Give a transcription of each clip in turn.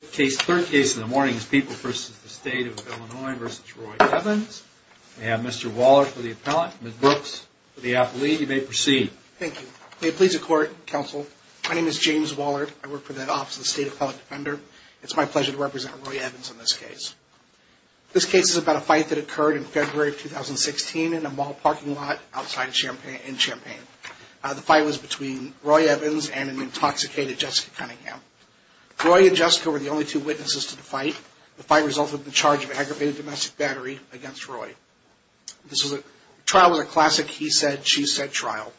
The third case in the morning is People v. The State of Illinois v. Roy Evans. We have Mr. Waller for the appellant, Ms. Brooks for the athlete. You may proceed. Thank you. May it please the Court, Counsel, my name is James Waller. I work for the Office of the State Appellate Defender. It's my pleasure to represent Roy Evans in this case. This case is about a fight that occurred in February of 2016 in a mall parking lot outside Champaign. The fight was between Roy Evans and an intoxicated Jessica Cunningham. Roy and Jessica were the only two witnesses to the fight. The fight resulted in the charge of aggravated domestic battery against Roy. The trial was a classic he-said, she-said trial.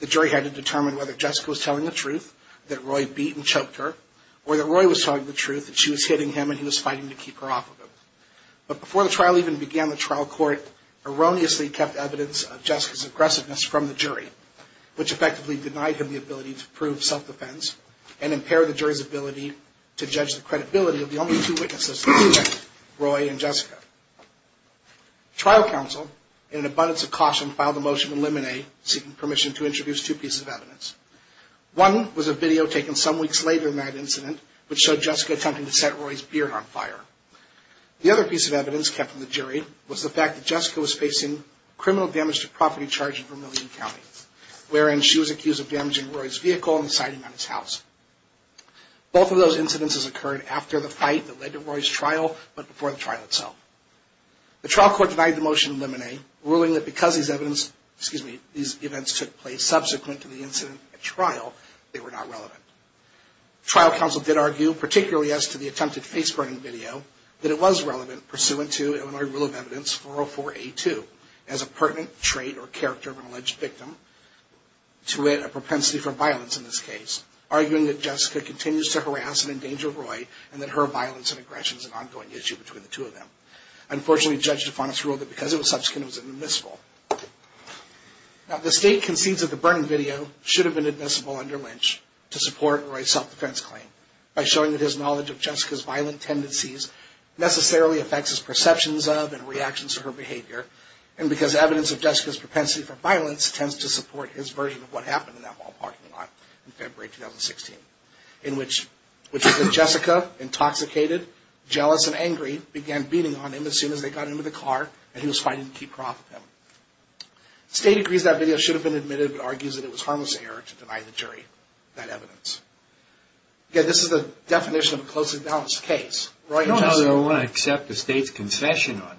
The jury had to determine whether Jessica was telling the truth, that Roy beat and choked her, or that Roy was telling the truth, that she was hitting him and he was fighting to keep her off of him. But before the trial even began, the trial court erroneously kept evidence of Jessica's aggressiveness from the jury, which effectively denied him the ability to prove self-defense and impaired the jury's ability to judge the credibility of the only two witnesses, Roy and Jessica. Trial counsel, in an abundance of caution, filed a motion to eliminate, seeking permission to introduce two pieces of evidence. One was a video taken some weeks later of that incident, which showed Jessica attempting to set Roy's beard on fire. The other piece of evidence kept from the jury was the fact that Jessica was facing criminal damage to property charge in Vermilion County, wherein she was accused of damaging Roy's vehicle and inciting on his house. Both of those incidents occurred after the fight that led to Roy's trial, but before the trial itself. The trial court denied the motion to eliminate, ruling that because these events took place subsequent to the incident at trial, they were not relevant. Trial counsel did argue, particularly as to the attempted face-burning video, that it was relevant, pursuant to Illinois Rule of Evidence 404A2, as a pertinent trait or character of an alleged victim, to wit, a propensity for violence in this case, arguing that Jessica continues to harass and endanger Roy, and that her violence and aggression is an ongoing issue between the two of them. Unfortunately, Judge DeFonis ruled that because it was subsequent, it was inadmissible. Now, the state concedes that the burning video should have been admissible under Lynch to support Roy's self-defense claim, by showing that his knowledge of Jessica's violent tendencies necessarily affects his perceptions of and reactions to her behavior, and because evidence of Jessica's propensity for violence tends to support his version of what happened in that mall parking lot in February 2016, in which Jessica, intoxicated, jealous, and angry, began beating on him as soon as they got into the car, and he was fighting to keep her off of him. The state agrees that video should have been admitted, but argues that it was harmless error to deny the jury that evidence. Again, this is the definition of a closely balanced case. I want to accept the state's concession on that.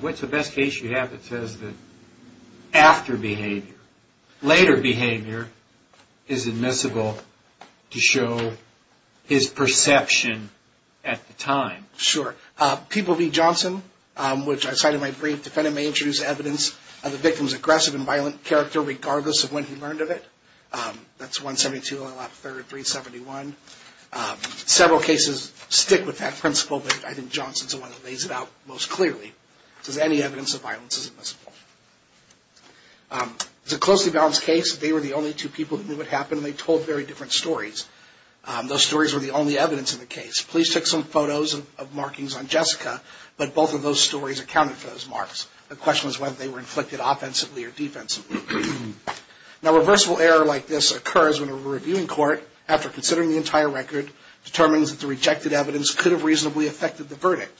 What's the best case you have that says that after behavior, later behavior is admissible to show his perception at the time? Sure. People v. Johnson, which I cited in my brief, defendant may introduce evidence of the victim's aggressive and violent character regardless of when he learned of it. That's 172, 371. Several cases stick with that principle, but I think Johnson's the one that lays it out most clearly. It says any evidence of violence is admissible. It's a closely balanced case. They were the only two people who knew what happened, and they told very different stories. Those stories were the only evidence in the case. Police took some photos of markings on Jessica, but both of those stories accounted for those marks. The question was whether they were inflicted offensively or defensively. Now, a reversible error like this occurs when a reviewing court, after considering the entire record, determines that the rejected evidence could have reasonably affected the verdict,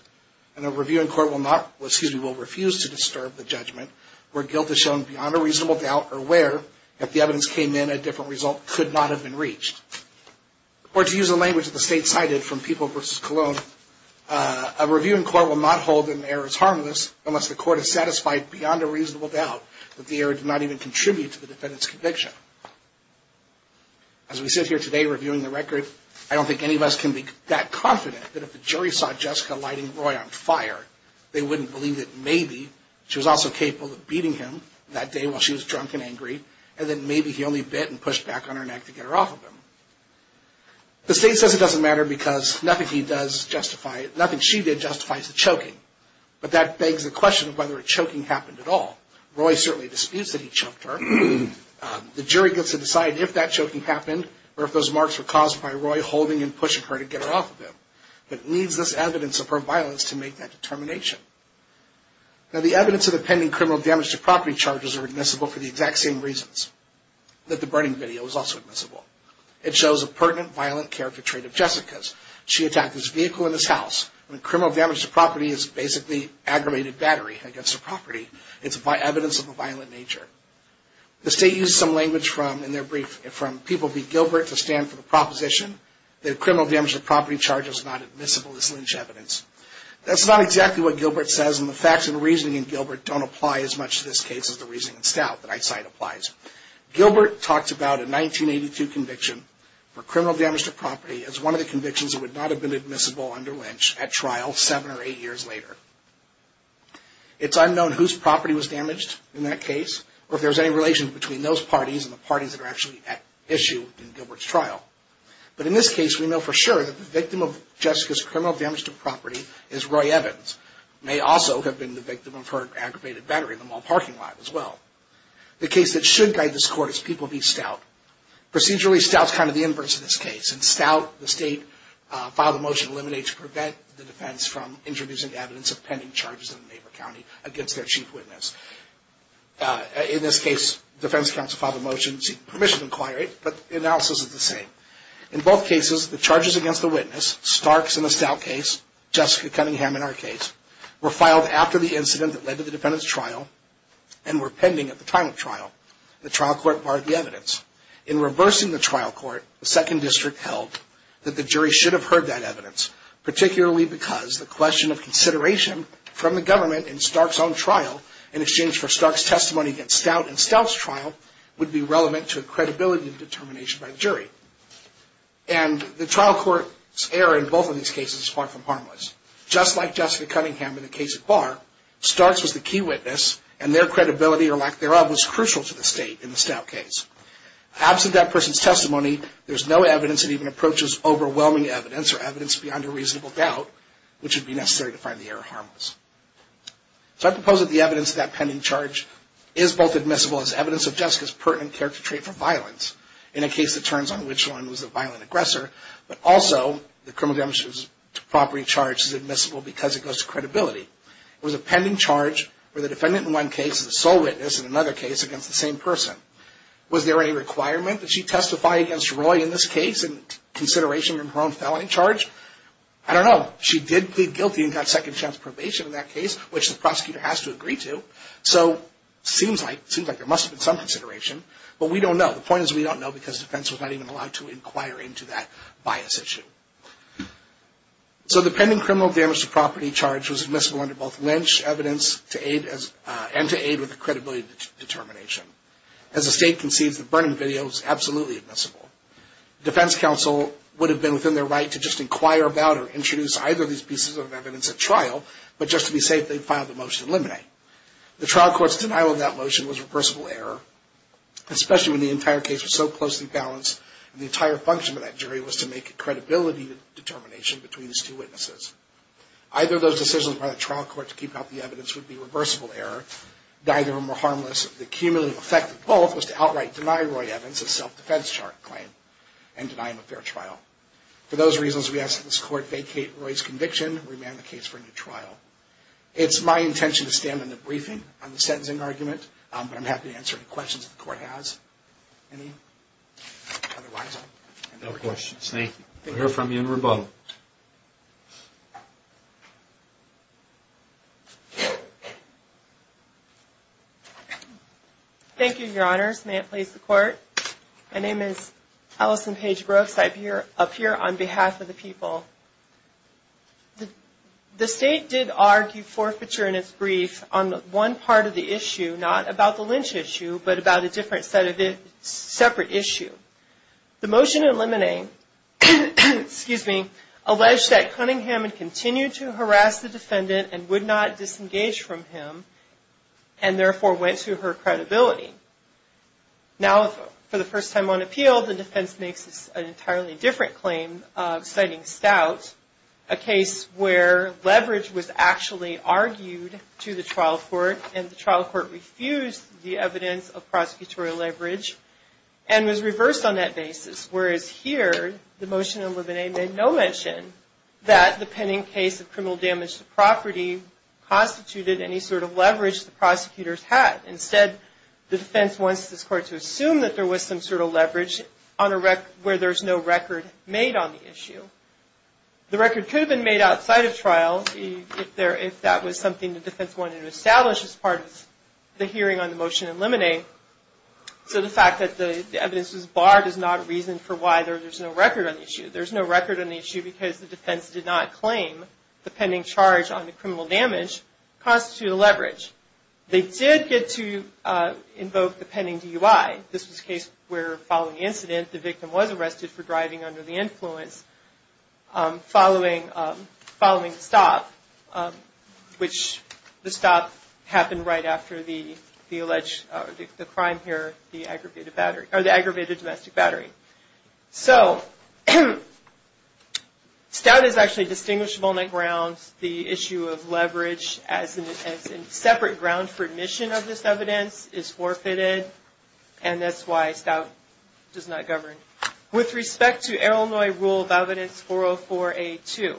and a reviewing court will refuse to disturb the judgment where guilt is shown beyond a reasonable doubt or where if the evidence came in a different result could not have been reached. Or to use the language that the state cited from People v. Colon, a reviewing court will not hold that an error is harmless unless the court is satisfied beyond a reasonable doubt that the error did not even contribute to the defendant's conviction. As we sit here today reviewing the record, I don't think any of us can be that confident that if the jury saw Jessica lighting Roy on fire, they wouldn't believe that maybe she was also capable of beating him that day while she was drunk and angry, and then maybe he only bit and pushed back on her neck to get her off of him. The state says it doesn't matter because nothing she did justifies the choking, but that begs the question of whether a choking happened at all. Roy certainly disputes that he choked her. The jury gets to decide if that choking happened or if those marks were caused by Roy holding and pushing her to get her off of him. But it needs this evidence of her violence to make that determination. Now the evidence of the pending criminal damage to property charges are admissible for the exact same reasons that the burning video is also admissible. It shows a pertinent violent character trait of Jessica's. She attacked his vehicle and his house. Criminal damage to property is basically aggravated battery against a property. It's evidence of a violent nature. The state used some language from people like Gilbert to stand for the proposition that criminal damage to property charges are not admissible as lynch evidence. That's not exactly what Gilbert says, and the facts and reasoning in Gilbert don't apply as much to this case as the reasoning in Stout that I cite applies. Gilbert talks about a 1982 conviction for criminal damage to property as one of the convictions that would not have been admissible under lynch at trial seven or eight years later. It's unknown whose property was damaged in that case or if there's any relation between those parties and the parties that are actually at issue in Gilbert's trial. But in this case, we know for sure that the victim of Jessica's criminal damage to property is Roy Evans, may also have been the victim of her aggravated battery in the mall parking lot as well. The case that should guide this court is People v. Stout. Procedurally, Stout's kind of the inverse of this case. In Stout, the state filed a motion to eliminate to prevent the defense from introducing evidence of pending charges in the neighbor county against their chief witness. In this case, defense counsel filed a motion to seek permission to inquire it, but the analysis is the same. In both cases, the charges against the witness, Starks in the Stout case, Jessica Cunningham in our case, were filed after the incident that led to the defendant's trial and were pending at the time of trial. The trial court barred the evidence. In reversing the trial court, the second district held that the jury should have heard that evidence, particularly because the question of consideration from the government in Stark's own trial in exchange for Stark's testimony against Stout in Stout's trial would be relevant to a credibility determination by the jury. And the trial court's error in both of these cases is far from harmless. Just like Jessica Cunningham in the case at Barr, Starks was the key witness and their credibility or lack thereof was crucial to the state in the Stout case. Absent that person's testimony, there's no evidence that even approaches overwhelming evidence or evidence beyond a reasonable doubt, which would be necessary to find the error harmless. So I propose that the evidence of that pending charge is both admissible as evidence of Jessica's pertinent character trait for violence in a case that turns on which one was the violent aggressor, but also the criminal damages property charge is admissible because it goes to credibility. It was a pending charge where the defendant in one case is a sole witness in another case against the same person. Was there any requirement that she testify against Roy in this case in consideration of her own felony charge? I don't know. She did plead guilty and got second chance probation in that case, which the prosecutor has to agree to. So it seems like there must have been some consideration, but we don't know. The point is we don't know because the defense was not even allowed to inquire into that bias issue. So the pending criminal damage to property charge was admissible under both Lynch evidence and to aid with the credibility determination. As the state concedes, the burning video is absolutely admissible. Defense counsel would have been within their right to just inquire about or introduce either of these pieces of evidence at trial, but just to be safe, they filed the motion to eliminate. The trial court's denial of that motion was a reversible error, especially when the entire case was so closely balanced and the entire function of that jury was to make a credibility determination between these two witnesses. Either of those decisions by the trial court to keep out the evidence would be a reversible error. Neither of them were harmless. The cumulative effect of both was to outright deny Roy Evans a self-defense claim and deny him a fair trial. For those reasons, we ask that this court vacate Roy's conviction and remand the case for a new trial. It's my intention to stand in the briefing on the sentencing argument, but I'm happy to answer any questions the court has. Any? Otherwise, I'll end the briefing. No questions. Thank you. We'll hear from you in rebuttal. Thank you, Your Honors. May it please the Court. My name is Allison Paige Brooks. I appear on behalf of the people. The state did argue forfeiture in its brief on one part of the issue, not about the lynch issue, but about a different set of separate issue. The motion in limine alleged that Cunningham had continued to harass the defendant and would not disengage from him and, therefore, went to her credibility. Now, for the first time on appeal, the defense makes an entirely different claim citing Stout, a case where leverage was actually argued to the trial court, and the trial court refused the evidence of prosecutorial leverage and was reversed on that basis, whereas here the motion in limine made no mention that the pending case of criminal damage to property constituted any sort of leverage the prosecutors had. Instead, the defense wants this court to assume that there was some sort of leverage where there's no record made on the issue. The record could have been made outside of trial if that was something the defense wanted to establish as part of the hearing on the motion in limine. So the fact that the evidence was barred is not a reason for why there's no record on the issue. There's no record on the issue because the defense did not claim the pending charge on the criminal damage constituted a leverage. They did get to invoke the pending DUI. This was a case where, following the incident, the victim was arrested for driving under the influence following the stop, which the stop happened right after the alleged crime here, the aggravated domestic battery. So, stout is actually distinguishable on that grounds. The issue of leverage as a separate ground for admission of this evidence is forfeited, and that's why stout does not govern. With respect to Illinois rule of evidence 404A2,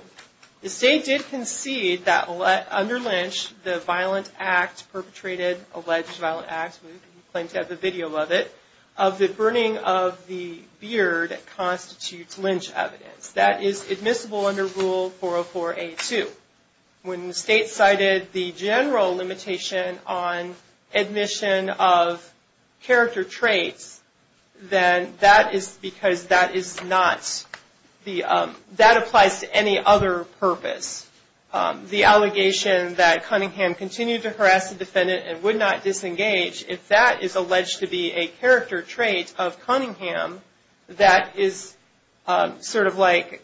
the state did concede that under Lynch, the violent act perpetrated, alleged violent act, we claim to have a video of it, of the burning of the beard constitutes Lynch evidence. That is admissible under rule 404A2. When the state cited the general limitation on admission of character traits, then that is because that is not the, that applies to any other purpose. The allegation that Cunningham continued to harass the defendant and would not disengage, if that is alleged to be a character trait of Cunningham, that is sort of like,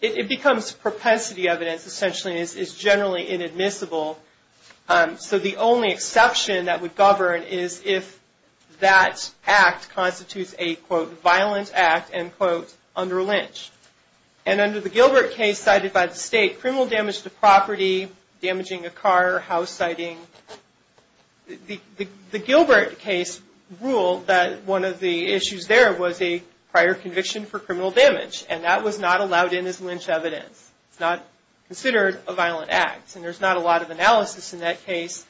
it becomes propensity evidence, essentially, and is generally inadmissible. So, the only exception that would govern is if that act constitutes a, quote, violent act, end quote, under Lynch. And under the Gilbert case cited by the state, criminal damage to property, damaging a car, house siting, the Gilbert case ruled that one of the issues there was a prior conviction for criminal damage, and that was not allowed in as Lynch evidence. It's not considered a violent act. And there's not a lot of analysis in that case,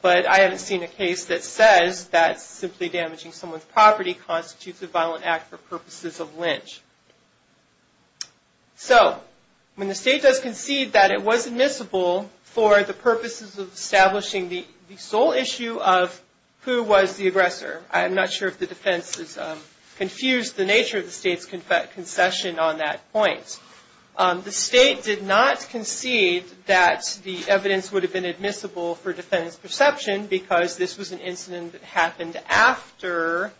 but I haven't seen a case that says that simply damaging someone's property constitutes a violent act for purposes of Lynch. So, when the state does concede that it was admissible for the purposes of establishing the sole issue of who was the aggressor. I'm not sure if the defense has confused the nature of the state's concession on that point. The state did not concede that the evidence would have been admissible for defendant's perception because this was an incident that happened after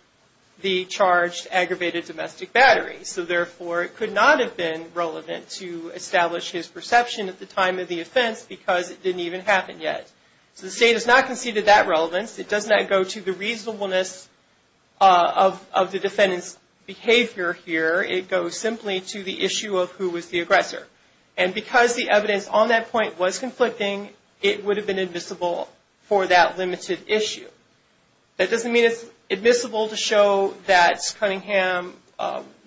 the charged aggravated domestic battery. So, therefore, it could not have been relevant to establish his perception at the time of the offense because it didn't even happen yet. So, the state has not conceded that relevance. It does not go to the reasonableness of the defendant's behavior here. It goes simply to the issue of who was the aggressor. And because the evidence on that point was conflicting, it would have been admissible for that limited issue. That doesn't mean it's admissible to show that Cunningham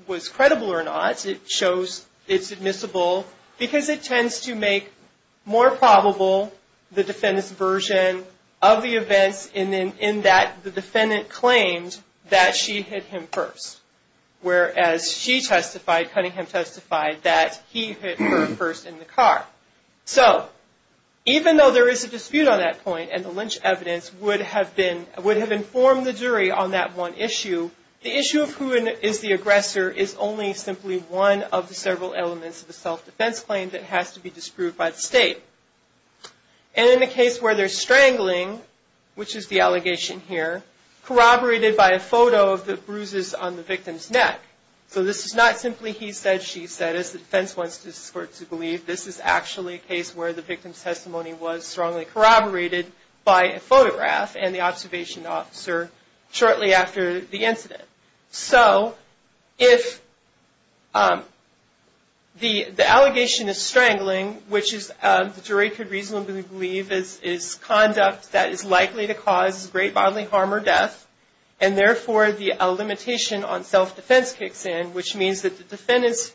was credible or not. It shows it's admissible because it tends to make more probable the defendant's version of the events in that the defendant claimed that she hit him first. Whereas she testified, Cunningham testified, that he hit her first in the car. So, even though there is a dispute on that point, and the Lynch evidence would have informed the jury on that one issue, the issue of who is the aggressor is only simply one of the several elements of the self-defense claim that has to be disproved by the state. And in the case where they're strangling, which is the allegation here, corroborated by a photo of the bruises on the victim's neck. So, this is not simply he said, she said, as the defense wants the court to believe. This is actually a case where the victim's testimony was strongly corroborated by a photograph and the observation officer shortly after the incident. So, if the allegation is strangling, which the jury could reasonably believe is conduct that is likely to cause great bodily harm or death, and therefore the limitation on self-defense kicks in, which means that the defendant's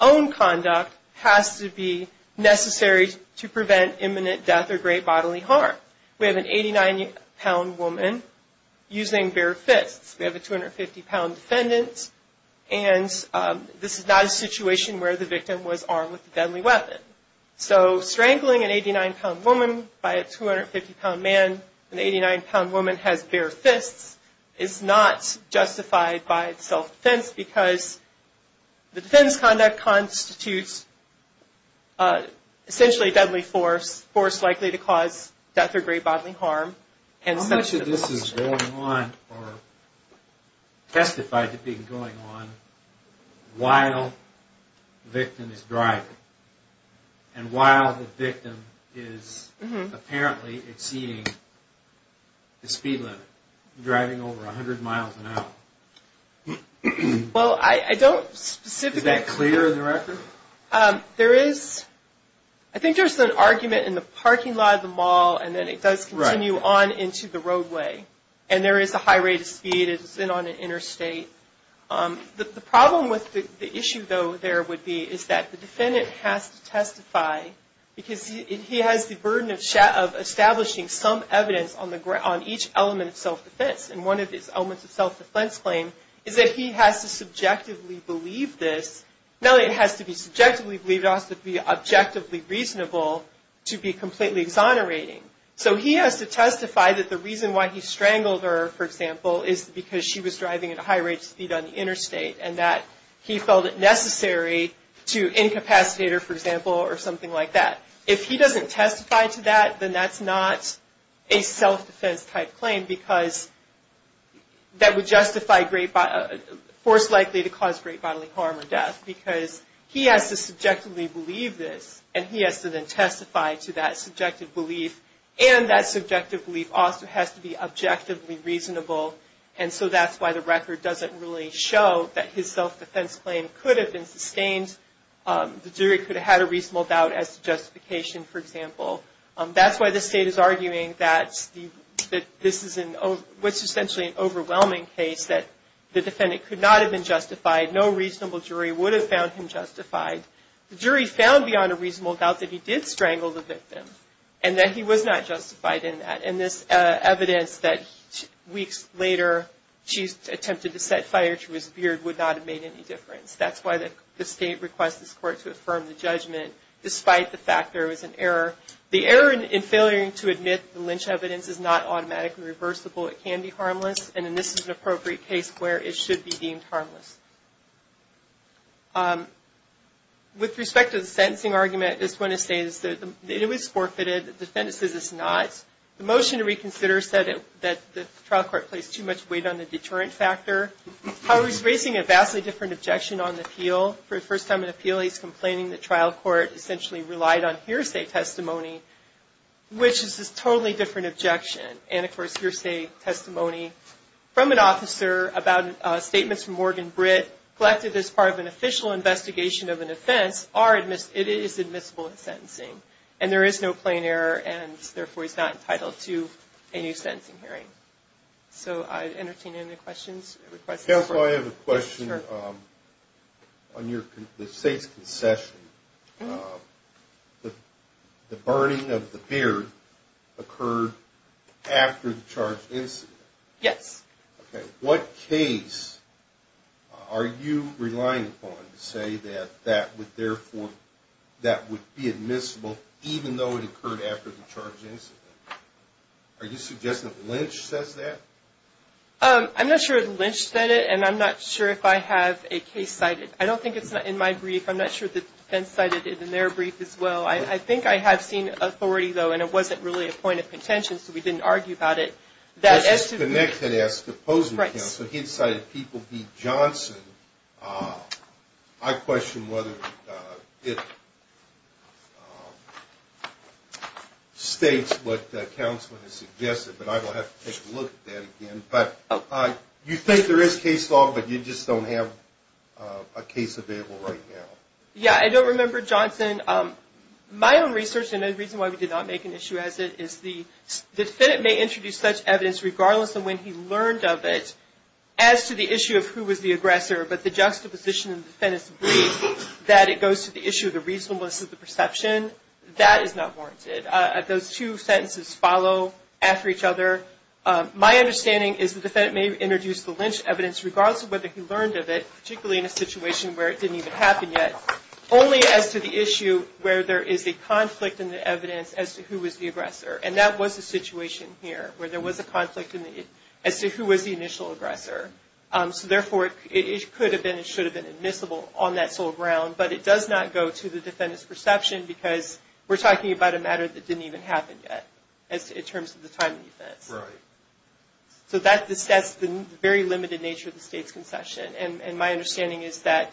own conduct has to be necessary to prevent imminent death or great bodily harm. We have an 89-pound woman using bare fists. We have a 250-pound defendant, and this is not a situation where the victim was armed with a deadly weapon. So, strangling an 89-pound woman by a 250-pound man, an 89-pound woman has bare fists, is not justified by self-defense because the defense conduct constitutes essentially deadly force, force likely to cause death or great bodily harm. How much of this is going on or testified to be going on while the victim is driving, and while the victim is apparently exceeding the speed limit, driving over 100 miles an hour? Well, I don't specifically... Is that clear in the record? There is, I think there's an argument in the parking lot of the mall, and then it does continue on into the roadway, and there is a high rate of speed. It's in on an interstate. The problem with the issue, though, there would be is that the defendant has to testify because he has the burden of establishing some evidence on each element of self-defense, and one of these elements of self-defense claim is that he has to subjectively believe this. No, it has to be subjectively believed. It has to be objectively reasonable to be completely exonerating. So he has to testify that the reason why he strangled her, for example, is because she was driving at a high rate of speed on the interstate and that he felt it necessary to incapacitate her, for example, or something like that. If he doesn't testify to that, then that's not a self-defense-type claim that would force likely to cause great bodily harm or death, because he has to subjectively believe this, and he has to then testify to that subjective belief, and that subjective belief also has to be objectively reasonable, and so that's why the record doesn't really show that his self-defense claim could have been sustained. The jury could have had a reasonable doubt as to justification, for example. That's why the state is arguing that this is essentially an overwhelming case, that the defendant could not have been justified. No reasonable jury would have found him justified. The jury found beyond a reasonable doubt that he did strangle the victim and that he was not justified in that, and this evidence that weeks later she attempted to set fire to his beard would not have made any difference. That's why the state requests this court to affirm the judgment. Despite the fact there was an error. The error in failing to admit the lynch evidence is not automatically reversible. It can be harmless, and this is an appropriate case where it should be deemed harmless. With respect to the sentencing argument, I just want to say that it was forfeited. The defendant says it's not. The motion to reconsider said that the trial court placed too much weight on the deterrent factor. Howard is raising a vastly different objection on the appeal. For the first time in an appeal, he's complaining the trial court essentially relied on hearsay testimony, which is a totally different objection. And, of course, hearsay testimony from an officer about statements from Morgan Britt collected as part of an official investigation of an offense, it is admissible in sentencing. And there is no plain error, and therefore he's not entitled to a new sentencing hearing. So I'd entertain any questions. Counsel, I have a question on the state's concession. The burning of the beard occurred after the charged incident. Yes. Okay. What case are you relying upon to say that that would therefore be admissible, even though it occurred after the charged incident? Are you suggesting that Lynch says that? I'm not sure if Lynch said it, and I'm not sure if I have a case cited. I don't think it's in my brief. I'm not sure if the defense cited it in their brief as well. I think I have seen authority, though, and it wasn't really a point of contention, so we didn't argue about it. The next thing I ask the opposing counsel, he cited People v. Johnson. I question whether it states what the counsel has suggested, but I will have to take a look at that again. But you think there is case law, but you just don't have a case available right now. Yeah, I don't remember, Johnson. My own research, and the reason why we did not make an issue as it, is the defendant may introduce such evidence, regardless of when he learned of it, as to the issue of who was the aggressor, but the juxtaposition in the defendant's brief, that it goes to the issue of the reasonableness of the perception, that is not warranted. Those two sentences follow after each other. My understanding is the defendant may introduce the Lynch evidence, regardless of whether he learned of it, particularly in a situation where it didn't even happen yet, only as to the issue where there is a conflict in the evidence as to who was the aggressor, and that was the situation here, where there was a conflict as to who was the initial aggressor. So therefore, it could have been and should have been admissible on that sole ground, but it does not go to the defendant's perception, because we're talking about a matter that didn't even happen yet, in terms of the timing of this. Right. So that's the very limited nature of the state's concession, and my understanding is that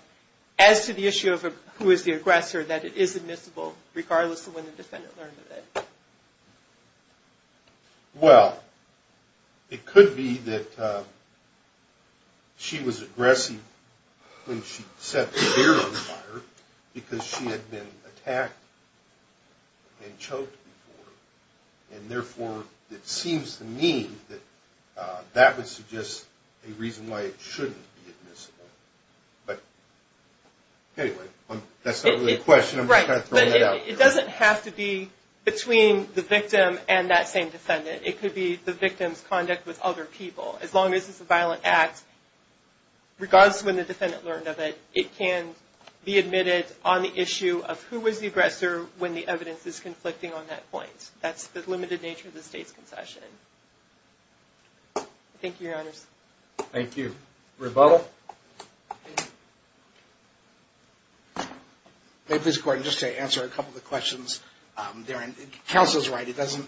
as to the issue of who is the aggressor, that it is admissible, regardless of when the defendant learned of it. Well, it could be that she was aggressive when she set the beer on fire, because she had been attacked and choked before, and therefore it seems to me that that would suggest a reason why it shouldn't be admissible. But anyway, that's not really a question. I'm just kind of throwing it out there. Right, but it doesn't have to be between the victim and that same defendant. It could be the victim's conduct with other people. As long as it's a violent act, regardless of when the defendant learned of it, it can be admitted on the issue of who was the aggressor when the evidence is conflicting on that point. That's the limited nature of the state's concession. Thank you, Your Honors. Thank you. Rebuttal. May I please, Court, just to answer a couple of the questions therein. Counsel is right. It doesn't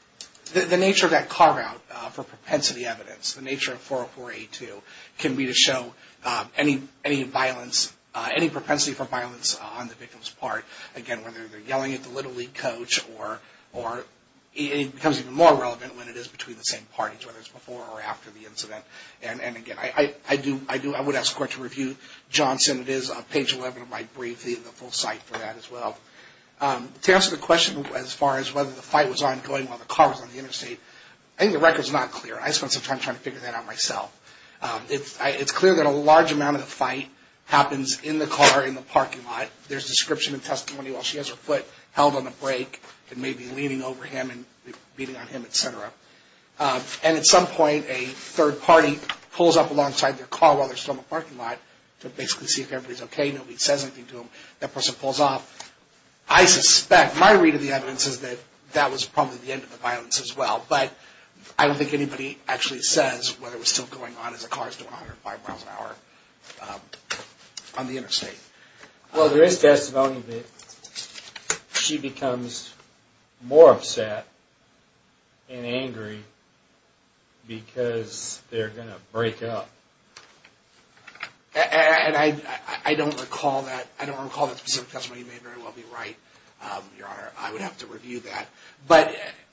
– the nature of that carve-out for propensity evidence, the nature of 404A2 can be to show any violence, any propensity for violence on the victim's part, again, whether they're yelling at the Little League coach or it becomes even more relevant when it is between the same parties, whether it's before or after the incident. And, again, I do – I would ask the Court to review Johnson. It is on page 11 of my brief, the full site for that as well. To answer the question as far as whether the fight was ongoing while the car was on the interstate, I think the record's not clear. I spent some time trying to figure that out myself. It's clear that a large amount of the fight happens in the car, in the parking lot. There's description and testimony while she has her foot held on the brake and maybe leaning over him and beating on him, et cetera. And at some point, a third party pulls up alongside their car while they're still in the parking lot to basically see if everybody's okay. Nobody says anything to them. That person pulls off. I suspect – my read of the evidence is that that was probably the end of the violence as well. But I don't think anybody actually says whether it was still going on as the car's doing 105 miles an hour on the interstate. Well, there is testimony that she becomes more upset and angry because they're going to break up. And I don't recall that specific testimony. You may very well be right, Your Honor. I would have to review that. But,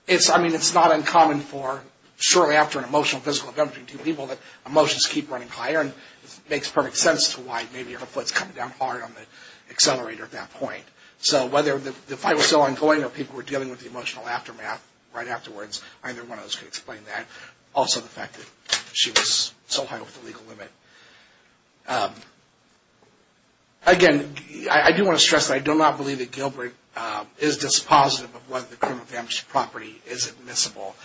I mean, it's not uncommon for shortly after an emotional, physical event between two people that emotions keep running higher and it makes perfect sense to why maybe her foot's coming down hard on the accelerator at that point. So whether the fight was still ongoing or people were dealing with the emotional aftermath right afterwards, either one of those could explain that. Also, the fact that she was so high off the legal limit. Again, I do want to stress that I do not believe that Gilbert is dispositive of whether the criminal damage to property is admissible.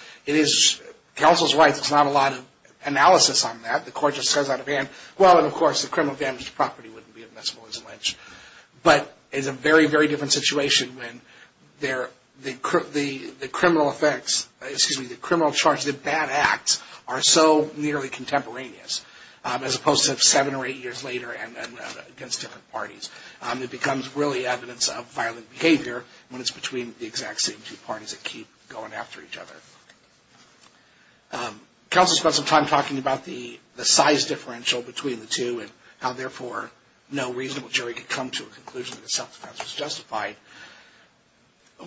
Counsel's right, there's not a lot of analysis on that. The court just says out of hand, well, and of course, the criminal damage to property wouldn't be admissible as a lynch. But it's a very, very different situation when the criminal effects, excuse me, the criminal charge, the bad acts are so nearly contemporaneous, as opposed to seven or eight years later and against different parties. It becomes really evidence of violent behavior when it's between the exact same two parties that keep going after each other. Counsel spent some time talking about the size differential between the two and how therefore no reasonable jury could come to a conclusion that self-defense was justified.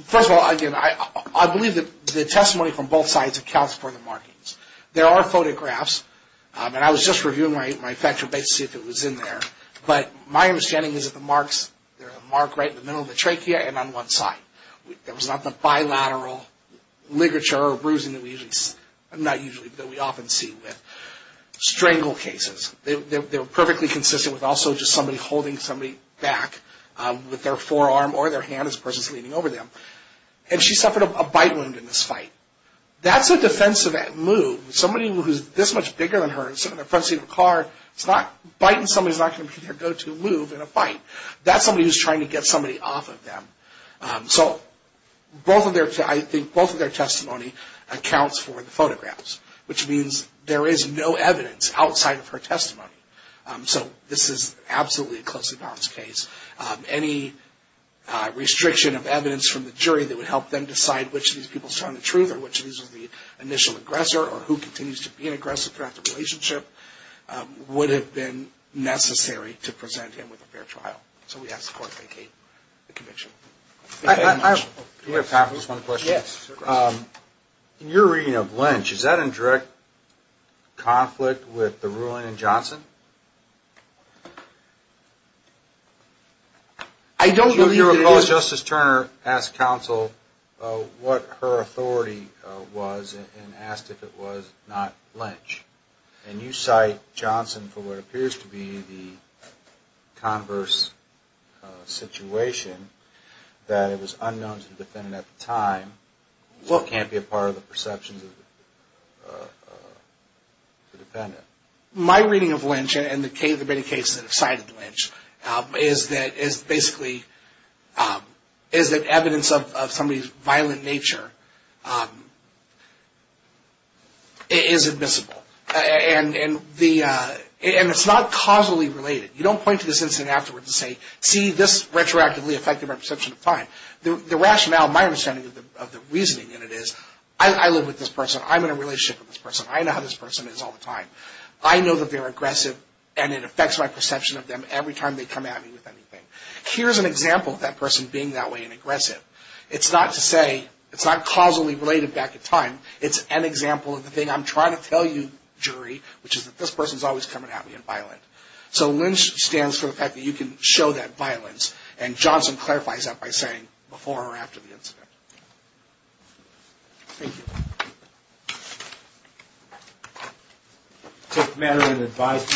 First of all, again, I believe that the testimony from both sides accounts for the markings. There are photographs, and I was just reviewing my factual base to see if it was in there, but my understanding is that the marks, there's a mark right in the middle of the trachea and on one side. There was not the bilateral ligature or bruising that we usually, not usually, but that we often see with strangle cases. They were perfectly consistent with also just somebody holding somebody back with their forearm or their hand as the person's leaning over them. And she suffered a bite wound in this fight. That's a defensive move. Somebody who's this much bigger than her in the front seat of a car, biting somebody is not going to be their go-to move in a fight. That's somebody who's trying to get somebody off of them. So I think both of their testimony accounts for the photographs, which means there is no evidence outside of her testimony. So this is absolutely a closely balanced case. Any restriction of evidence from the jury that would help them decide which of these people is telling the truth or which of these is the initial aggressor or who continues to be an aggressor throughout the relationship would have been necessary to present him with a fair trial. So we ask the court to vacate the conviction. Do you have time for just one question? Yes, of course. In your reading of Lynch, is that in direct conflict with the ruling in Johnson? I don't believe it is. Do you recall Justice Turner asked counsel what her authority was and asked if it was not Lynch? And you cite Johnson for what appears to be the converse situation, that it was unknown to the defendant at the time, so it can't be a part of the perceptions of the defendant. My reading of Lynch and the many cases that have cited Lynch is that basically evidence of somebody's violent nature is admissible. And it's not causally related. You don't point to this incident afterwards and say, see this retroactively affected my perception of time. The rationale, my understanding of the reasoning in it is, I live with this person, I'm in a relationship with this person, I know how this person is all the time, I know that they're aggressive and it affects my perception of them every time they come at me with anything. Here's an example of that person being that way and aggressive. It's not to say, it's not causally related back in time, it's an example of the thing I'm trying to tell you, jury, which is that this person is always coming at me and violent. So Lynch stands for the fact that you can show that violence and Johnson clarifies that by saying before or after the incident. Thank you. Tough matter and advice.